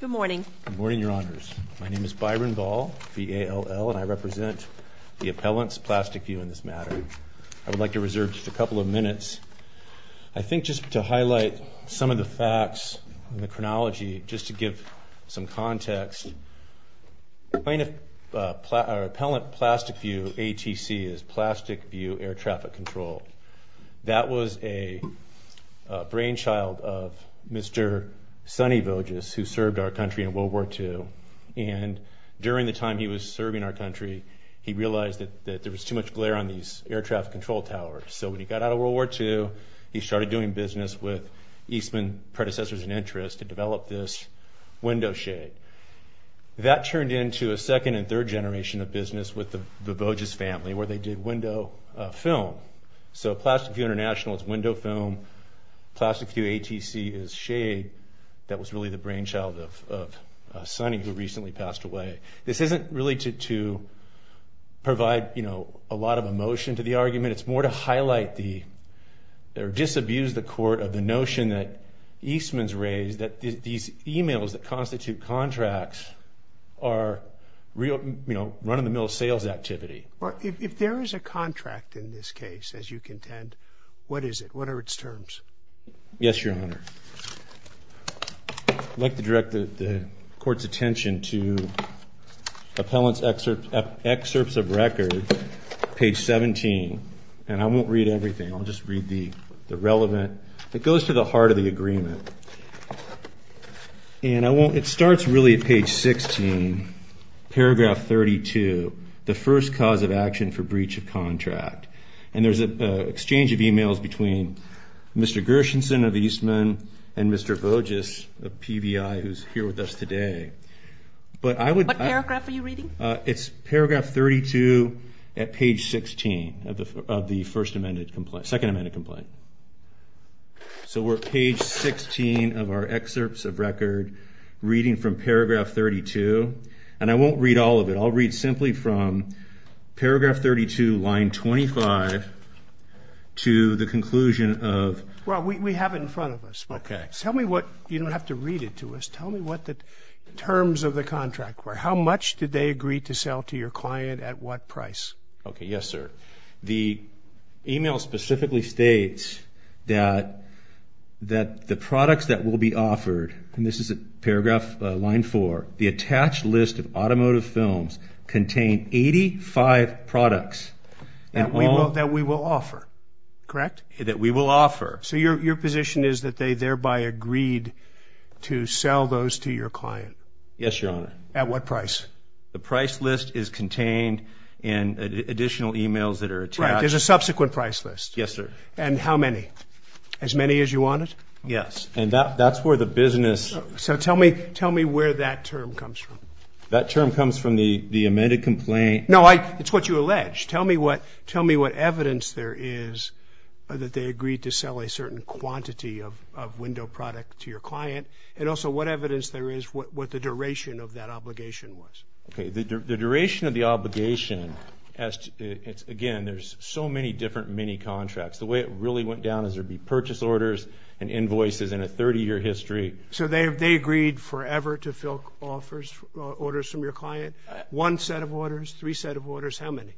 Good morning. Good morning, Your Honors. My name is Byron Ball, V-A-L-L, and I represent the Appellant's Plastic-View in this matter. I would like to reserve just a couple of minutes, I think, just to highlight some of the facts and the chronology, just to give some context. Appellant Plastic-View, A-T-C, is Plastic-View Air Traffic Control. That was a brainchild of Mr. Sonny Voges, who served our country in World War II. And during the time he was serving our country, he realized that there was too much glare on these air traffic control towers. So when he got out of World War II, he started doing business with Eastman predecessors and interests to develop this window shade. That turned into a second and third generation of business with the Voges family, where they did window film. So Plastic-View International is window film. Plastic-View A-T-C is shade. That was really the brainchild of Sonny, who recently passed away. This isn't really to provide a lot of emotion to the argument. It's more to highlight or disabuse the court of the notion that Eastman's raised, that these e-mails that constitute contracts are run-of-the-mill sales activity. If there is a contract in this case, as you contend, what is it? What are its terms? Yes, Your Honor. I'd like to direct the Court's attention to Appellant's Excerpts of Record, page 17. And I won't read everything. I'll just read the relevant. It goes to the heart of the agreement. And it starts really at page 16, paragraph 32, the first cause of action for breach of contract. And there's an exchange of e-mails between Mr. Gershenson of Eastman and Mr. Voges of PVI, who's here with us today. What paragraph are you reading? It's paragraph 32 at page 16 of the second amended complaint. So we're at page 16 of our Excerpts of Record, reading from paragraph 32. And I won't read all of it. I'll read simply from paragraph 32, line 25, to the conclusion of... Well, we have it in front of us. Okay. You don't have to read it to us. Tell me what the terms of the contract were. How much did they agree to sell to your client at what price? Okay. Yes, sir. The e-mail specifically states that the products that will be offered, and this is at paragraph line 4, the attached list of automotive films contain 85 products... That we will offer, correct? That we will offer. So your position is that they thereby agreed to sell those to your client. Yes, Your Honor. At what price? The price list is contained in additional e-mails that are attached. Right. There's a subsequent price list. Yes, sir. And how many? As many as you wanted? Yes. And that's where the business... So tell me where that term comes from. That term comes from the amended complaint... No, it's what you allege. Tell me what evidence there is that they agreed to sell a certain quantity of window product to your client, and also what evidence there is what the duration of that obligation was. Okay. The duration of the obligation, again, there's so many different mini-contracts. The way it really went down is there would be purchase orders and invoices and a 30-year history. So they agreed forever to fill orders from your client? One set of orders? Three set of orders? How many?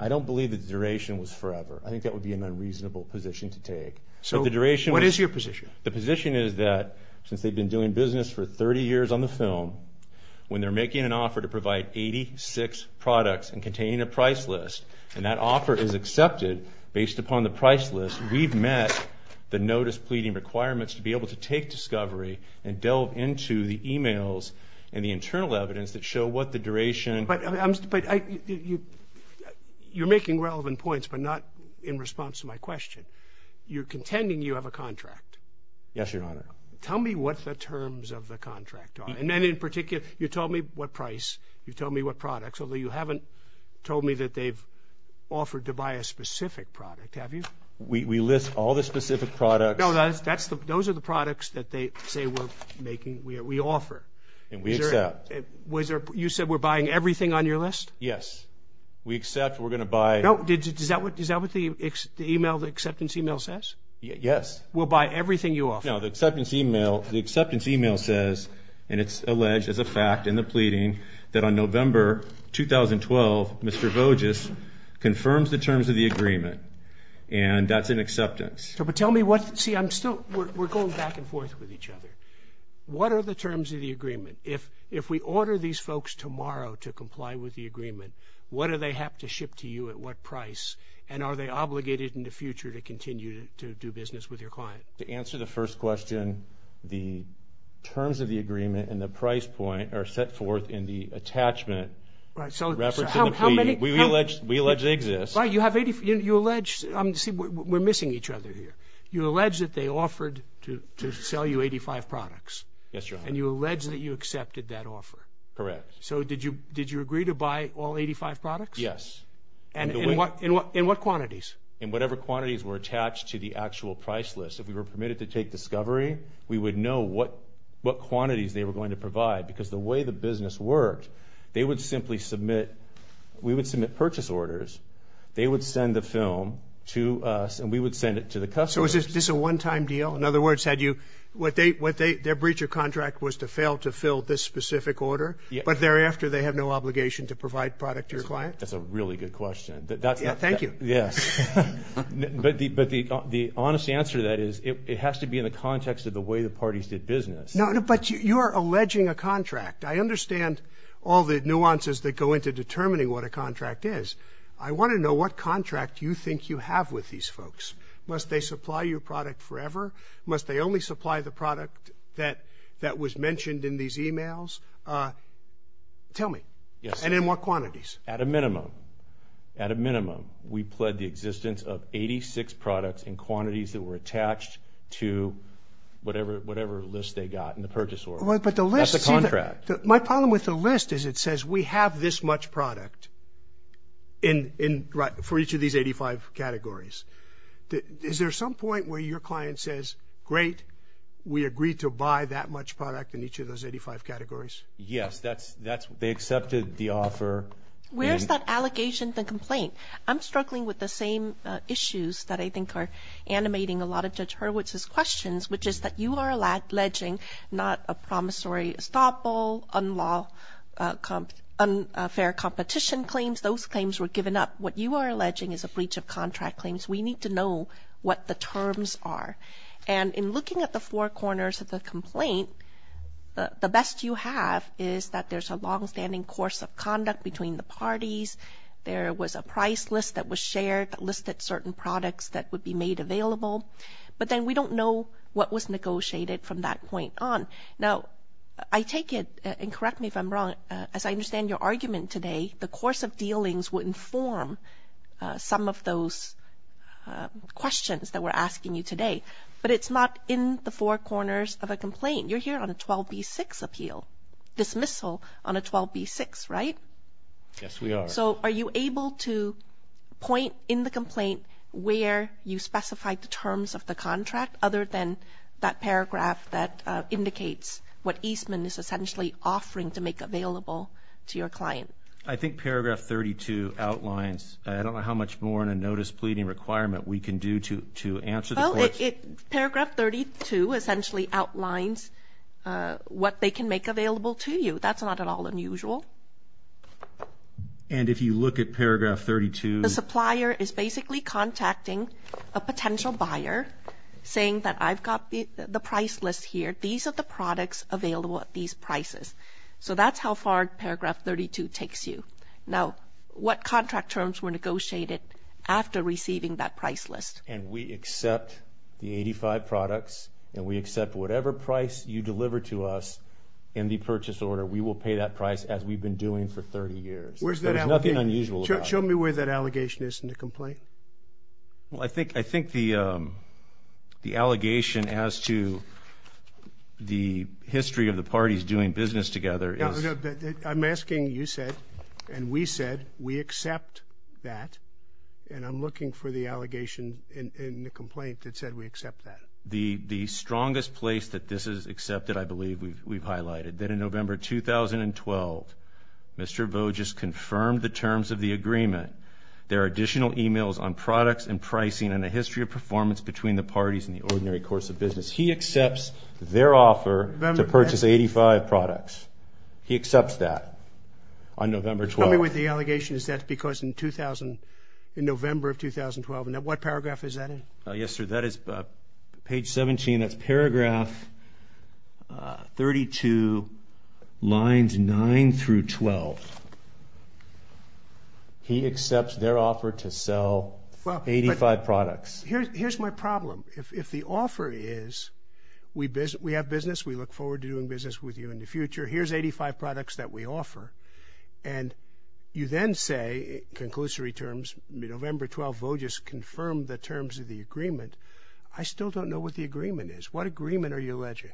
I don't believe that the duration was forever. I think that would be an unreasonable position to take. So what is your position? The position is that since they've been doing business for 30 years on the film, when they're making an offer to provide 86 products and containing a price list, and that offer is accepted based upon the price list, we've met the notice pleading requirements to be able to take discovery and delve into the e-mails and the internal evidence that show what the duration... But you're making relevant points but not in response to my question. You're contending you have a contract? Yes, Your Honor. Tell me what the terms of the contract are. And then in particular, you told me what price, you told me what products, although you haven't told me that they've offered to buy a specific product, have you? We list all the specific products. No, those are the products that they say we're making, we offer. And we accept. You said we're buying everything on your list? Yes. We accept, we're going to buy... Yes. We'll buy everything you offer. No, the acceptance e-mail says, and it's alleged as a fact in the pleading, that on November 2012, Mr. Voges confirms the terms of the agreement, and that's an acceptance. But tell me what... See, I'm still... We're going back and forth with each other. What are the terms of the agreement? If we order these folks tomorrow to comply with the agreement, what do they have to ship to you at what price, and are they obligated in the future to continue to do business with your client? To answer the first question, the terms of the agreement and the price point are set forth in the attachment. Right, so how many... We allege they exist. Right, you allege... See, we're missing each other here. You allege that they offered to sell you 85 products. Yes, Your Honor. And you allege that you accepted that offer. Correct. So did you agree to buy all 85 products? Yes. In what quantities? In whatever quantities were attached to the actual price list. If we were permitted to take discovery, we would know what quantities they were going to provide because the way the business worked, they would simply submit... We would submit purchase orders. They would send the film to us, and we would send it to the customers. So is this a one-time deal? In other words, their breach of contract was to fail to fill this specific order, but thereafter they have no obligation to provide product to your client? That's a really good question. Thank you. Yes. But the honest answer to that is it has to be in the context of the way the parties did business. No, but you are alleging a contract. I understand all the nuances that go into determining what a contract is. I want to know what contract you think you have with these folks. Must they supply your product forever? Must they only supply the product that was mentioned in these e-mails? Tell me. And in what quantities? At a minimum. At a minimum, we pled the existence of 86 products in quantities that were attached to whatever list they got in the purchase order. That's a contract. My problem with the list is it says we have this much product for each of these 85 categories. Is there some point where your client says, great, we agreed to buy that much product in each of those 85 categories? Yes, they accepted the offer. Where is that allegation, the complaint? I'm struggling with the same issues that I think are animating a lot of Judge Hurwitz's questions, which is that you are alleging not a promissory estoppel, unfair competition claims. Those claims were given up. What you are alleging is a breach of contract claims. We need to know what the terms are. And in looking at the four corners of the complaint, the best you have is that there's a longstanding course of conduct between the parties. There was a price list that was shared that listed certain products that would be made available. But then we don't know what was negotiated from that point on. Now, I take it, and correct me if I'm wrong, as I understand your argument today, the course of dealings would inform some of those questions that we're asking you today. But it's not in the four corners of a complaint. You're here on a 12b-6 appeal, dismissal on a 12b-6, right? Yes, we are. So are you able to point in the complaint where you specified the terms of the contract, other than that paragraph that indicates what Eastman is essentially offering to make available to your client? I think paragraph 32 outlines. I don't know how much more in a notice pleading requirement we can do to answer the question. Well, paragraph 32 essentially outlines what they can make available to you. That's not at all unusual. And if you look at paragraph 32? The supplier is basically contacting a potential buyer, saying that I've got the price list here. These are the products available at these prices. So that's how far paragraph 32 takes you. Now, what contract terms were negotiated after receiving that price list? And we accept the 85 products, and we accept whatever price you deliver to us in the purchase order. We will pay that price as we've been doing for 30 years. Where's that allegation? There's nothing unusual about it. Show me where that allegation is in the complaint. Well, I think the allegation as to the history of the parties doing business together is... No, no. I'm asking you said, and we said, we accept that. And I'm looking for the allegation in the complaint that said we accept that. The strongest place that this is accepted, I believe, we've highlighted that in November 2012, Mr. Voges confirmed the terms of the agreement. There are additional e-mails on products and pricing and a history of performance between the parties in the ordinary course of business. He accepts their offer to purchase 85 products. He accepts that on November 12th. Tell me what the allegation is. Is that because in 2000, in November of 2012? And what paragraph is that in? Yes, sir, that is page 17. That's paragraph 32, lines 9 through 12. He accepts their offer to sell 85 products. Here's my problem. If the offer is we have business, we look forward to doing business with you in the future, here's 85 products that we offer, and you then say, in conclusory terms, November 12th, Voges confirmed the terms of the agreement. I still don't know what the agreement is. What agreement are you alleging?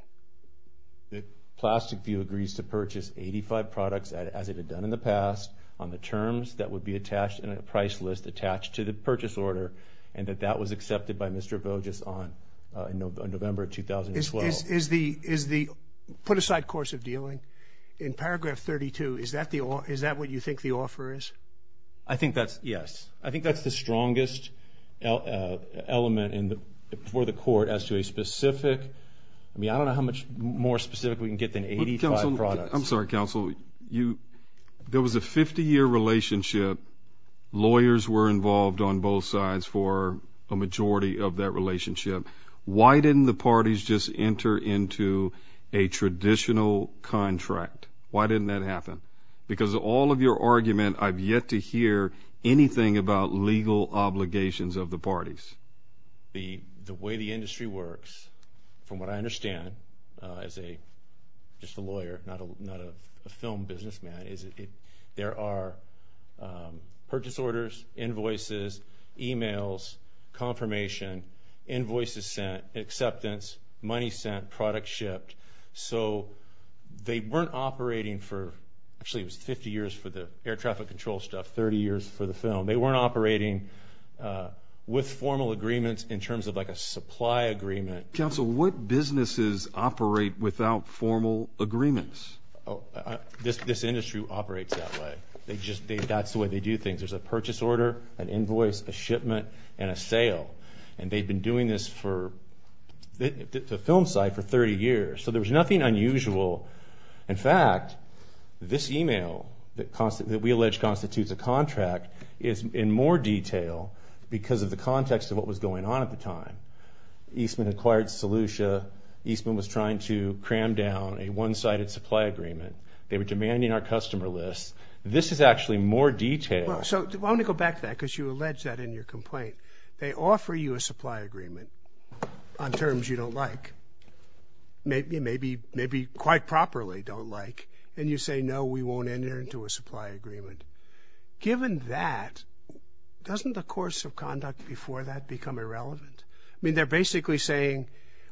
That Plastic View agrees to purchase 85 products as it had done in the past on the terms that would be attached in a price list attached to the purchase order and that that was accepted by Mr. Voges on November 2012. Is the put-aside course of dealing in paragraph 32, is that what you think the offer is? I think that's, yes. I think that's the strongest element for the court as to a specific, I mean, I don't know how much more specific we can get than 85 products. I'm sorry, counsel. There was a 50-year relationship. Lawyers were involved on both sides for a majority of that relationship. Why didn't the parties just enter into a traditional contract? Why didn't that happen? Because of all of your argument, I've yet to hear anything about legal obligations of the parties. The way the industry works, from what I understand, as just a lawyer, not a film businessman, is there are purchase orders, invoices, e-mails, confirmation, invoices sent, acceptance, money sent, product shipped, so they weren't operating for, actually it was 50 years for the air traffic control stuff, 30 years for the film. They weren't operating with formal agreements in terms of like a supply agreement. Counsel, what businesses operate without formal agreements? This industry operates that way. That's the way they do things. There's a purchase order, an invoice, a shipment, and a sale. And they've been doing this for, the film side, for 30 years. So there's nothing unusual. In fact, this e-mail that we allege constitutes a contract is in more detail because of the context of what was going on at the time. Eastman acquired Solution. Eastman was trying to cram down a one-sided supply agreement. They were demanding our customer list. This is actually more detailed. So I want to go back to that because you allege that in your complaint. They offer you a supply agreement on terms you don't like, maybe quite properly don't like, and you say, no, we won't enter into a supply agreement. Given that, doesn't the course of conduct before that become irrelevant? I mean, they're basically saying,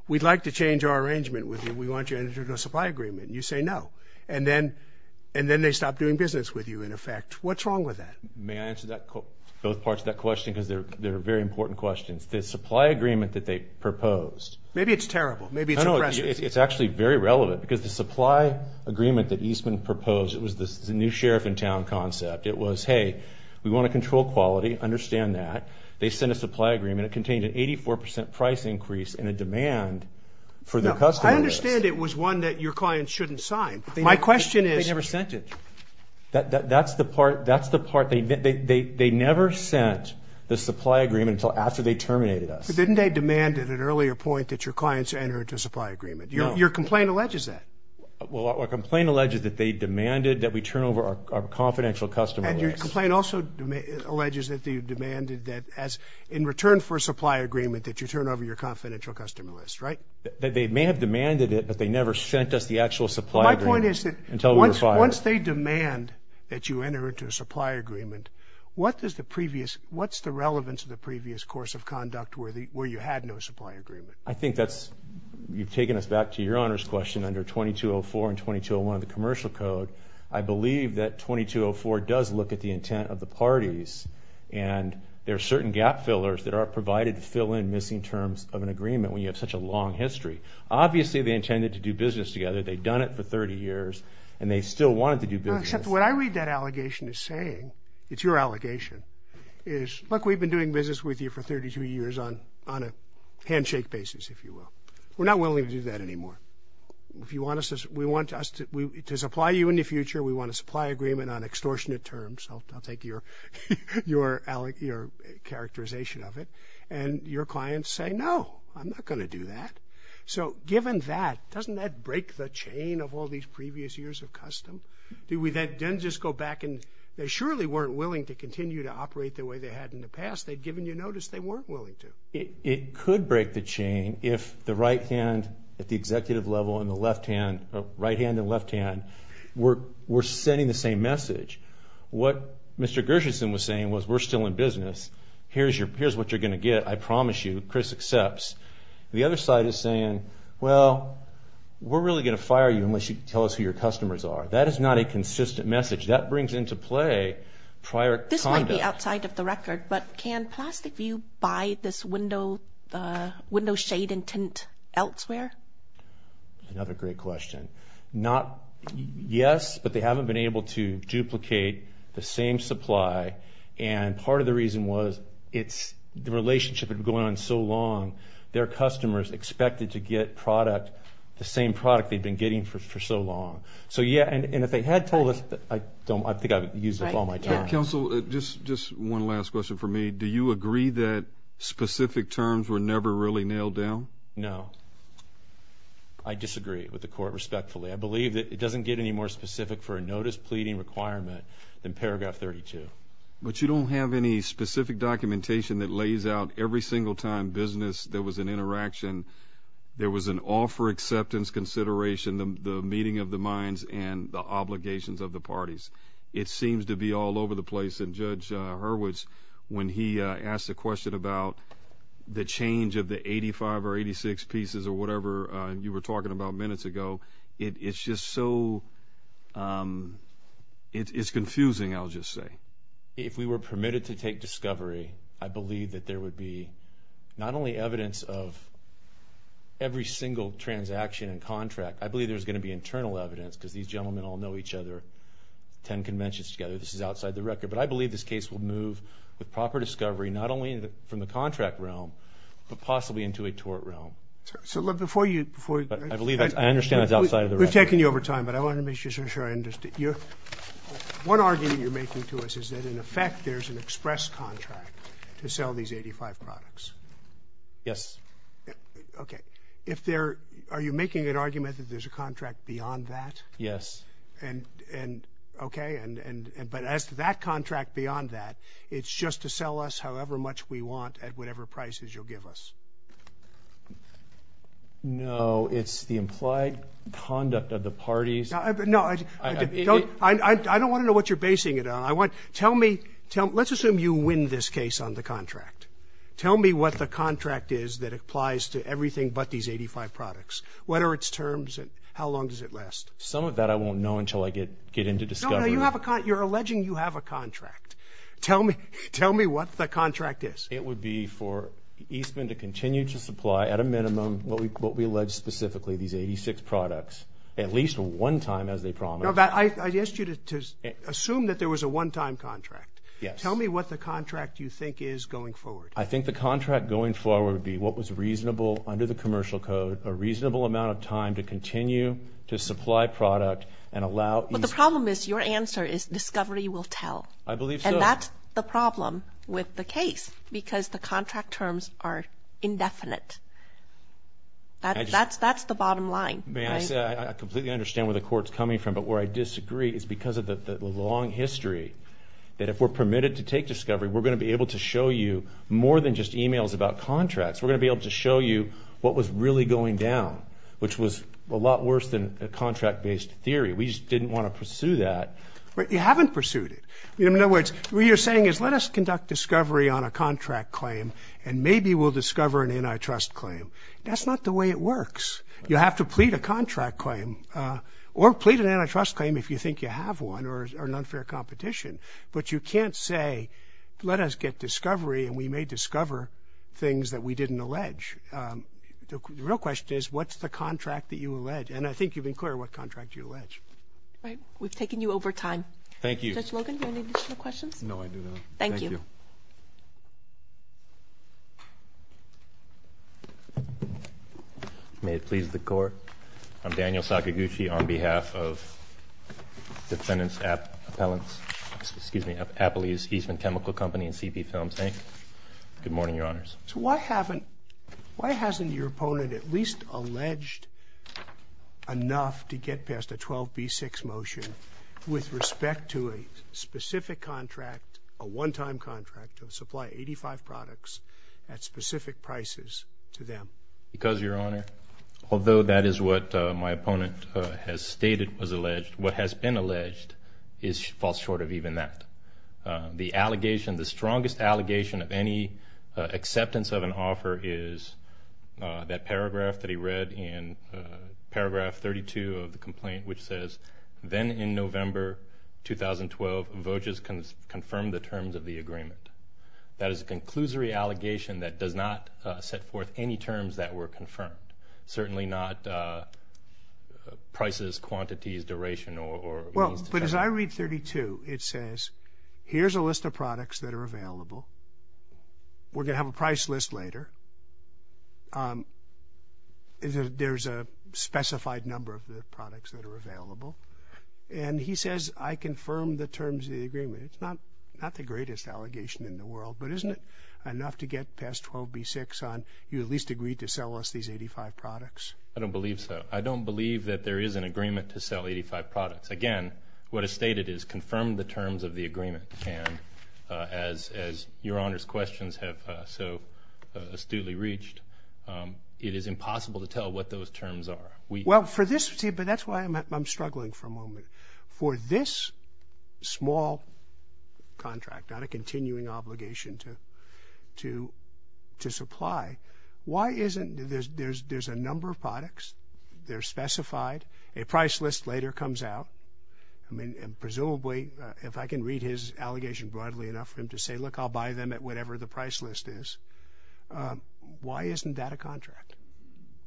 we'd like to change our arrangement with you. We want you to enter into a supply agreement. You say no. And then they stop doing business with you, in effect. What's wrong with that? May I answer both parts of that question? Because they're very important questions. The supply agreement that they proposed. Maybe it's terrible. Maybe it's impressive. It's actually very relevant because the supply agreement that Eastman proposed, it was the new sheriff-in-town concept. It was, hey, we want to control quality, understand that. They sent a supply agreement. It contained an 84% price increase and a demand for the customer list. I understand it was one that your clients shouldn't sign. My question is – They never sent it. That's the part. That's the part. They never sent the supply agreement until after they terminated us. But didn't they demand at an earlier point that your clients enter into a supply agreement? Your complaint alleges that. Well, our complaint alleges that they demanded that we turn over our confidential customer list. And your complaint also alleges that they demanded that, in return for a supply agreement, that you turn over your confidential customer list, right? They may have demanded it, but they never sent us the actual supply agreement until we were fired. Once they demand that you enter into a supply agreement, what's the relevance of the previous course of conduct where you had no supply agreement? I think that's – you've taken us back to your Honor's question under 2204 and 2201 of the Commercial Code. I believe that 2204 does look at the intent of the parties, and there are certain gap fillers that are provided to fill in missing terms of an agreement when you have such a long history. Obviously, they intended to do business together. They'd done it for 30 years, and they still wanted to do business. Except what I read that allegation as saying – it's your allegation – is, look, we've been doing business with you for 32 years on a handshake basis, if you will. We're not willing to do that anymore. If you want us – we want us to supply you in the future. We want a supply agreement on extortionate terms. I'll take your characterization of it. And your clients say, no, I'm not going to do that. So given that, doesn't that break the chain of all these previous years of custom? Do we then just go back and – they surely weren't willing to continue to operate the way they had in the past. They'd given you notice they weren't willing to. It could break the chain if the right hand at the executive level and the left hand – right hand and left hand were sending the same message. What Mr. Gershenson was saying was we're still in business. Here's what you're going to get. I promise you. Chris accepts. The other side is saying, well, we're really going to fire you unless you tell us who your customers are. That is not a consistent message. That brings into play prior conduct. This might be outside of the record, but can Plastic View buy this window shade and tint elsewhere? Another great question. Not – yes, but they haven't been able to duplicate the same supply. And part of the reason was it's – the relationship had been going on so long, their customers expected to get product, the same product they'd been getting for so long. So, yeah, and if they had told us – I think I've used up all my time. Counsel, just one last question for me. Do you agree that specific terms were never really nailed down? No. I disagree with the court respectfully. I believe that it doesn't get any more specific for a notice pleading requirement than paragraph 32. But you don't have any specific documentation that lays out every single time business, there was an interaction, there was an offer acceptance consideration, the meeting of the minds, and the obligations of the parties. It seems to be all over the place. And Judge Hurwitz, when he asked the question about the change of the 85 or 86 pieces or whatever you were talking about minutes ago, it's just so – it's confusing, I'll just say. If we were permitted to take discovery, I believe that there would be not only evidence of every single transaction and contract, I believe there's going to be internal evidence because these gentlemen all know each other, attend conventions together, this is outside the record. But I believe this case will move with proper discovery, not only from the contract realm, but possibly into a tort realm. So, look, before you – I believe that's – I understand that's outside of the record. We're taking you over time, but I want to make sure I understand. One argument you're making to us is that, in effect, there's an express contract to sell these 85 products. Yes. Okay. If there – are you making an argument that there's a contract beyond that? Yes. And – okay. But as to that contract beyond that, it's just to sell us however much we want at whatever prices you'll give us? No, it's the implied conduct of the parties. No, I don't want to know what you're basing it on. I want – tell me – let's assume you win this case on the contract. Tell me what the contract is that applies to everything but these 85 products. What are its terms and how long does it last? Some of that I won't know until I get into discovery. No, no, no. You have a – you're alleging you have a contract. Tell me – tell me what the contract is. It would be for Eastman to continue to supply, at a minimum, what we allege specifically, these 86 products, at least one time, as they promised. No, I asked you to assume that there was a one-time contract. Yes. Tell me what the contract you think is going forward. I think the contract going forward would be what was reasonable under the commercial code, a reasonable amount of time to continue to supply product and allow Eastman – But the problem is your answer is discovery will tell. I believe so. And that's the problem with the case because the contract terms are indefinite. That's the bottom line. I completely understand where the court's coming from. But where I disagree is because of the long history that if we're permitted to take discovery, we're going to be able to show you more than just emails about contracts. We're going to be able to show you what was really going down, which was a lot worse than a contract-based theory. We just didn't want to pursue that. You haven't pursued it. In other words, what you're saying is let us conduct discovery on a contract claim, and maybe we'll discover an antitrust claim. That's not the way it works. You have to plead a contract claim or plead an antitrust claim if you think you have one or an unfair competition. But you can't say, let us get discovery, and we may discover things that we didn't allege. The real question is, what's the contract that you allege? And I think you've been clear what contract you allege. All right. We've taken you over time. Thank you. Judge Logan, do you have any additional questions? No, I do not. Thank you. May it please the Court. I'm Daniel Sakaguchi on behalf of Defendant's Appellant's, excuse me, Appley's Eastman Chemical Company and CB Films, Inc. Good morning, Your Honors. So why hasn't your opponent at least alleged enough to get past a 12B6 motion with respect to a specific contract, a one-time contract to supply 85 products at specific prices to them? Because, Your Honor, although that is what my opponent has stated was alleged, what has been alleged falls short of even that. The allegation, the strongest allegation of any acceptance of an offer is that paragraph that he read in Paragraph 32 of the complaint, which says, Then in November 2012, vouchers confirmed the terms of the agreement. That is a conclusory allegation that does not set forth any terms that were confirmed, certainly not prices, quantities, duration, or means to sell. But as I read 32, it says, Here's a list of products that are available. We're going to have a price list later. There's a specified number of the products that are available. And he says, I confirm the terms of the agreement. It's not the greatest allegation in the world, but isn't it enough to get past 12B6 on you at least agreed to sell us these 85 products? I don't believe so. I don't believe that there is an agreement to sell 85 products. Again, what is stated is confirm the terms of the agreement. And as your Honor's questions have so astutely reached, it is impossible to tell what those terms are. Well, for this, but that's why I'm struggling for a moment. For this small contract on a continuing obligation to supply, why isn't there's a number of products, they're specified, a price list later comes out. I mean, presumably, if I can read his allegation broadly enough for him to say, Look, I'll buy them at whatever the price list is. Why isn't that a contract?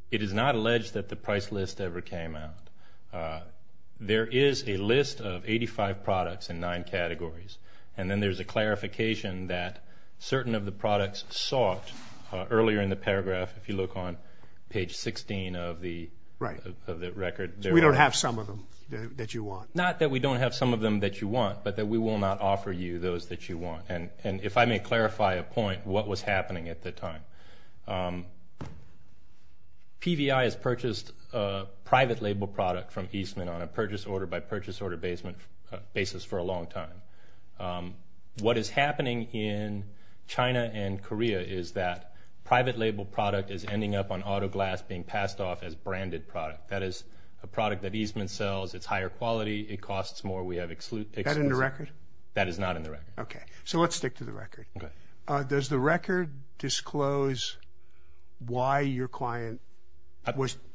It is not alleged that the price list ever came out. There is a list of 85 products in nine categories. And then there's a clarification that certain of the products sought earlier in the paragraph, if you look on page 16 of the record. We don't have some of them that you want. Not that we don't have some of them that you want, but that we will not offer you those that you want. And if I may clarify a point, what was happening at the time? PVI has purchased a private label product from Eastman on a purchase order by purchase order basis for a long time. What is happening in China and Korea is that private label product is ending up on auto glass being passed off as branded product. That is a product that Eastman sells. It's higher quality. It costs more. We have exclusive. Is that in the record? That is not in the record. Okay. So let's stick to the record. Does the record disclose why your client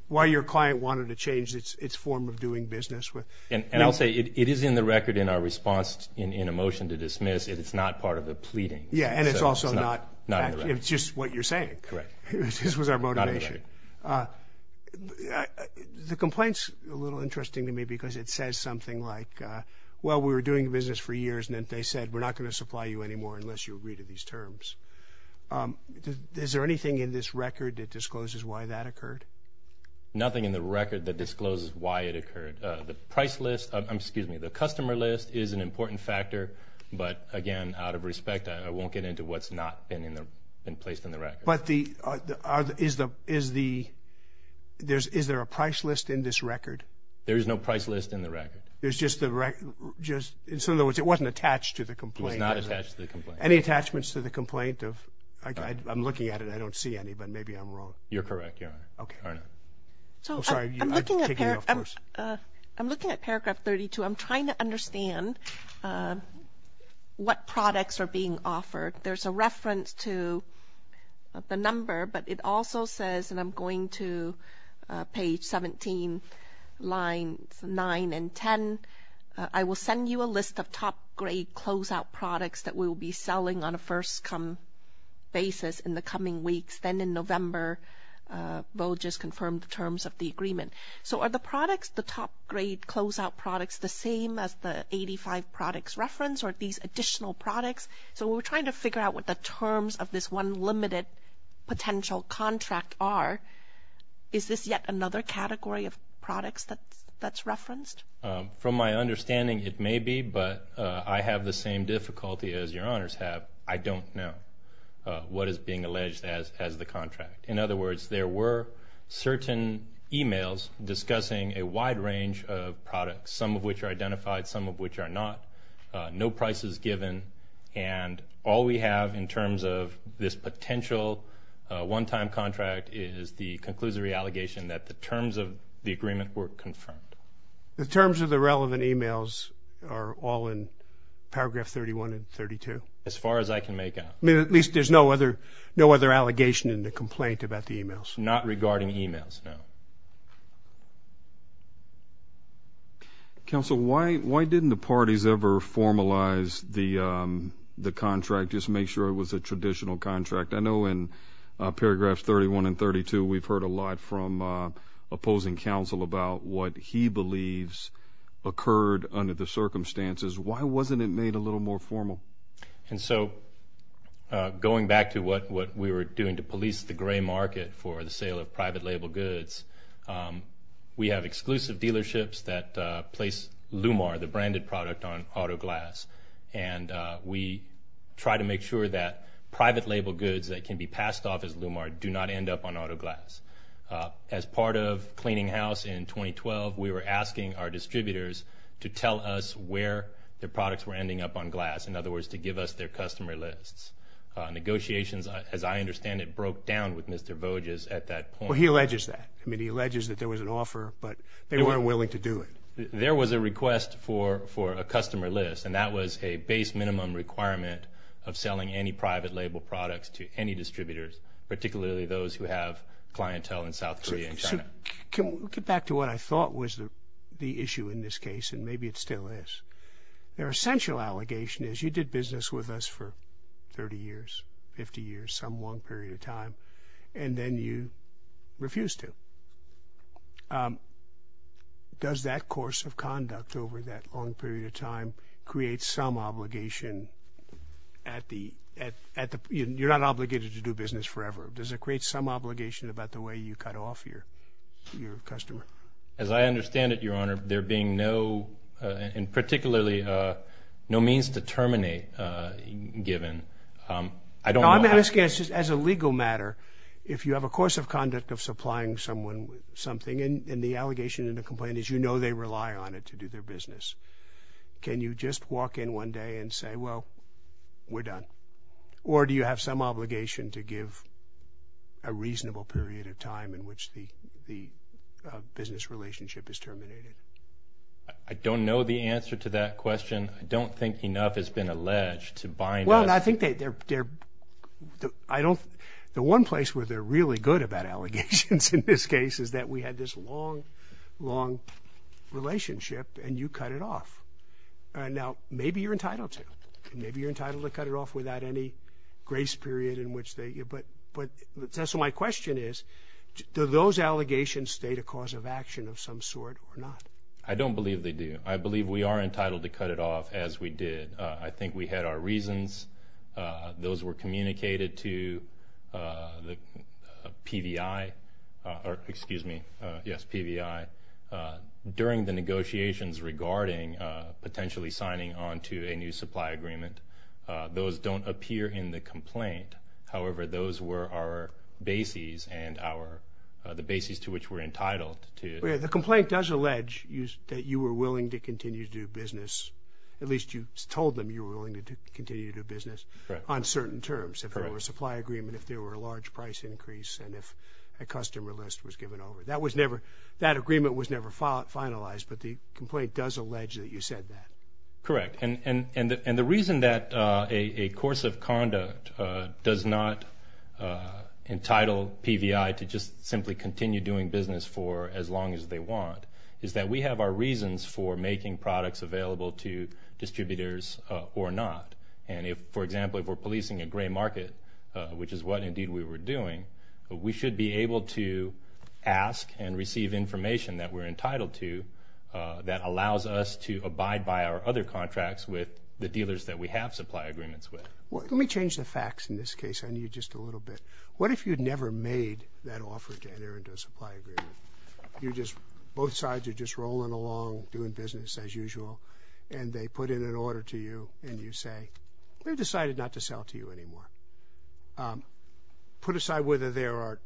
wanted to change its form of doing business? And I'll say it is in the record in our response in a motion to dismiss. It's not part of the pleading. Yeah, and it's also not. It's just what you're saying. Correct. This was our motivation. The complaint's a little interesting to me because it says something like, well, we were doing business for years, and then they said we're not going to supply you anymore unless you agree to these terms. Is there anything in this record that discloses why that occurred? Nothing in the record that discloses why it occurred. The price list, excuse me, the customer list is an important factor. But, again, out of respect, I won't get into what's not been placed in the record. But is there a price list in this record? There is no price list in the record. In other words, it wasn't attached to the complaint. It was not attached to the complaint. Any attachments to the complaint? I'm looking at it. I don't see any, but maybe I'm wrong. You're correct, Your Honor. Okay. I'm sorry. I'm looking at paragraph 32. I'm trying to understand what products are being offered. There's a reference to the number, but it also says, and I'm going to page 17, lines 9 and 10, I will send you a list of top-grade closeout products that we will be selling on a first-come basis in the coming weeks. Then in November, we'll just confirm the terms of the agreement. So are the products, the top-grade closeout products, the same as the 85 products referenced or these additional products? So we're trying to figure out what the terms of this one limited potential contract are. Is this yet another category of products that's referenced? From my understanding, it may be, but I have the same difficulty as Your Honors have. I don't know what is being alleged as the contract. In other words, there were certain e-mails discussing a wide range of products, some of which are identified, some of which are not, no prices given, and all we have in terms of this potential one-time contract is the conclusory allegation that the terms of the agreement were confirmed. The terms of the relevant e-mails are all in paragraph 31 and 32? As far as I can make out. I mean, at least there's no other allegation in the complaint about the e-mails? Not regarding e-mails, no. Counsel, why didn't the parties ever formalize the contract, just make sure it was a traditional contract? I know in paragraphs 31 and 32 we've heard a lot from opposing counsel about what he believes occurred under the circumstances. Why wasn't it made a little more formal? And so going back to what we were doing to police the gray market for the sale of private label goods, we have exclusive dealerships that place Lumar, the branded product, on auto glass, and we try to make sure that private label goods that can be passed off as Lumar do not end up on auto glass. As part of cleaning house in 2012, we were asking our distributors to tell us where their products were ending up on glass, in other words, to give us their customer lists. Negotiations, as I understand it, broke down with Mr. Voges at that point. Well, he alleges that. I mean, he alleges that there was an offer, but they weren't willing to do it. There was a request for a customer list, and that was a base minimum requirement of selling any private label products to any distributors, particularly those who have clientele in South Korea and China. Can we get back to what I thought was the issue in this case, and maybe it still is? Their essential allegation is you did business with us for 30 years, 50 years, some long period of time, and then you refused to. Does that course of conduct over that long period of time create some obligation at the end? You're not obligated to do business forever. Does it create some obligation about the way you cut off your customer? As I understand it, Your Honor, there being no, and particularly no means to terminate given. I'm asking as a legal matter, if you have a course of conduct of supplying someone with something, and the allegation and the complaint is you know they rely on it to do their business, can you just walk in one day and say, well, we're done? Or do you have some obligation to give a reasonable period of time in which the business relationship is terminated? I don't know the answer to that question. I don't think enough has been alleged to bind us. Your Honor, I think they're, I don't, the one place where they're really good about allegations in this case is that we had this long, long relationship, and you cut it off. Now, maybe you're entitled to. Maybe you're entitled to cut it off without any grace period in which they, but, so my question is, do those allegations state a cause of action of some sort or not? I don't believe they do. I believe we are entitled to cut it off as we did. I think we had our reasons. Those were communicated to the PVI, or excuse me, yes, PVI, during the negotiations regarding potentially signing on to a new supply agreement. Those don't appear in the complaint. However, those were our bases and our, the bases to which we're entitled to. The complaint does allege that you were willing to continue to do business. At least you told them you were willing to continue to do business on certain terms, if there were a supply agreement, if there were a large price increase, and if a customer list was given over. That was never, that agreement was never finalized, but the complaint does allege that you said that. Correct. And the reason that a course of conduct does not entitle PVI to just simply continue doing business for as long as they want is that we have our reasons for making products available to distributors or not. And if, for example, if we're policing a gray market, which is what indeed we were doing, we should be able to ask and receive information that we're entitled to that allows us to abide by our other contracts with the dealers that we have supply agreements with. Let me change the facts in this case on you just a little bit. What if you'd never made that offer to enter into a supply agreement? You just, both sides are just rolling along doing business as usual, and they put in an order to you and you say, we've decided not to sell to you anymore. Put aside whether there are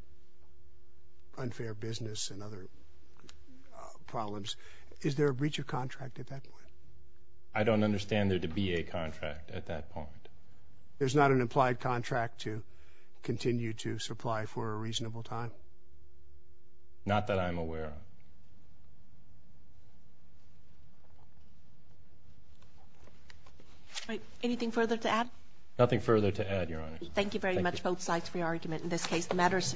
unfair business and other problems, is there a breach of contract at that point? I don't understand there to be a contract at that point. There's not an implied contract to continue to supply for a reasonable time? Not that I'm aware of. Anything further to add? Nothing further to add, Your Honor. Thank you very much, both sides, for your argument in this case.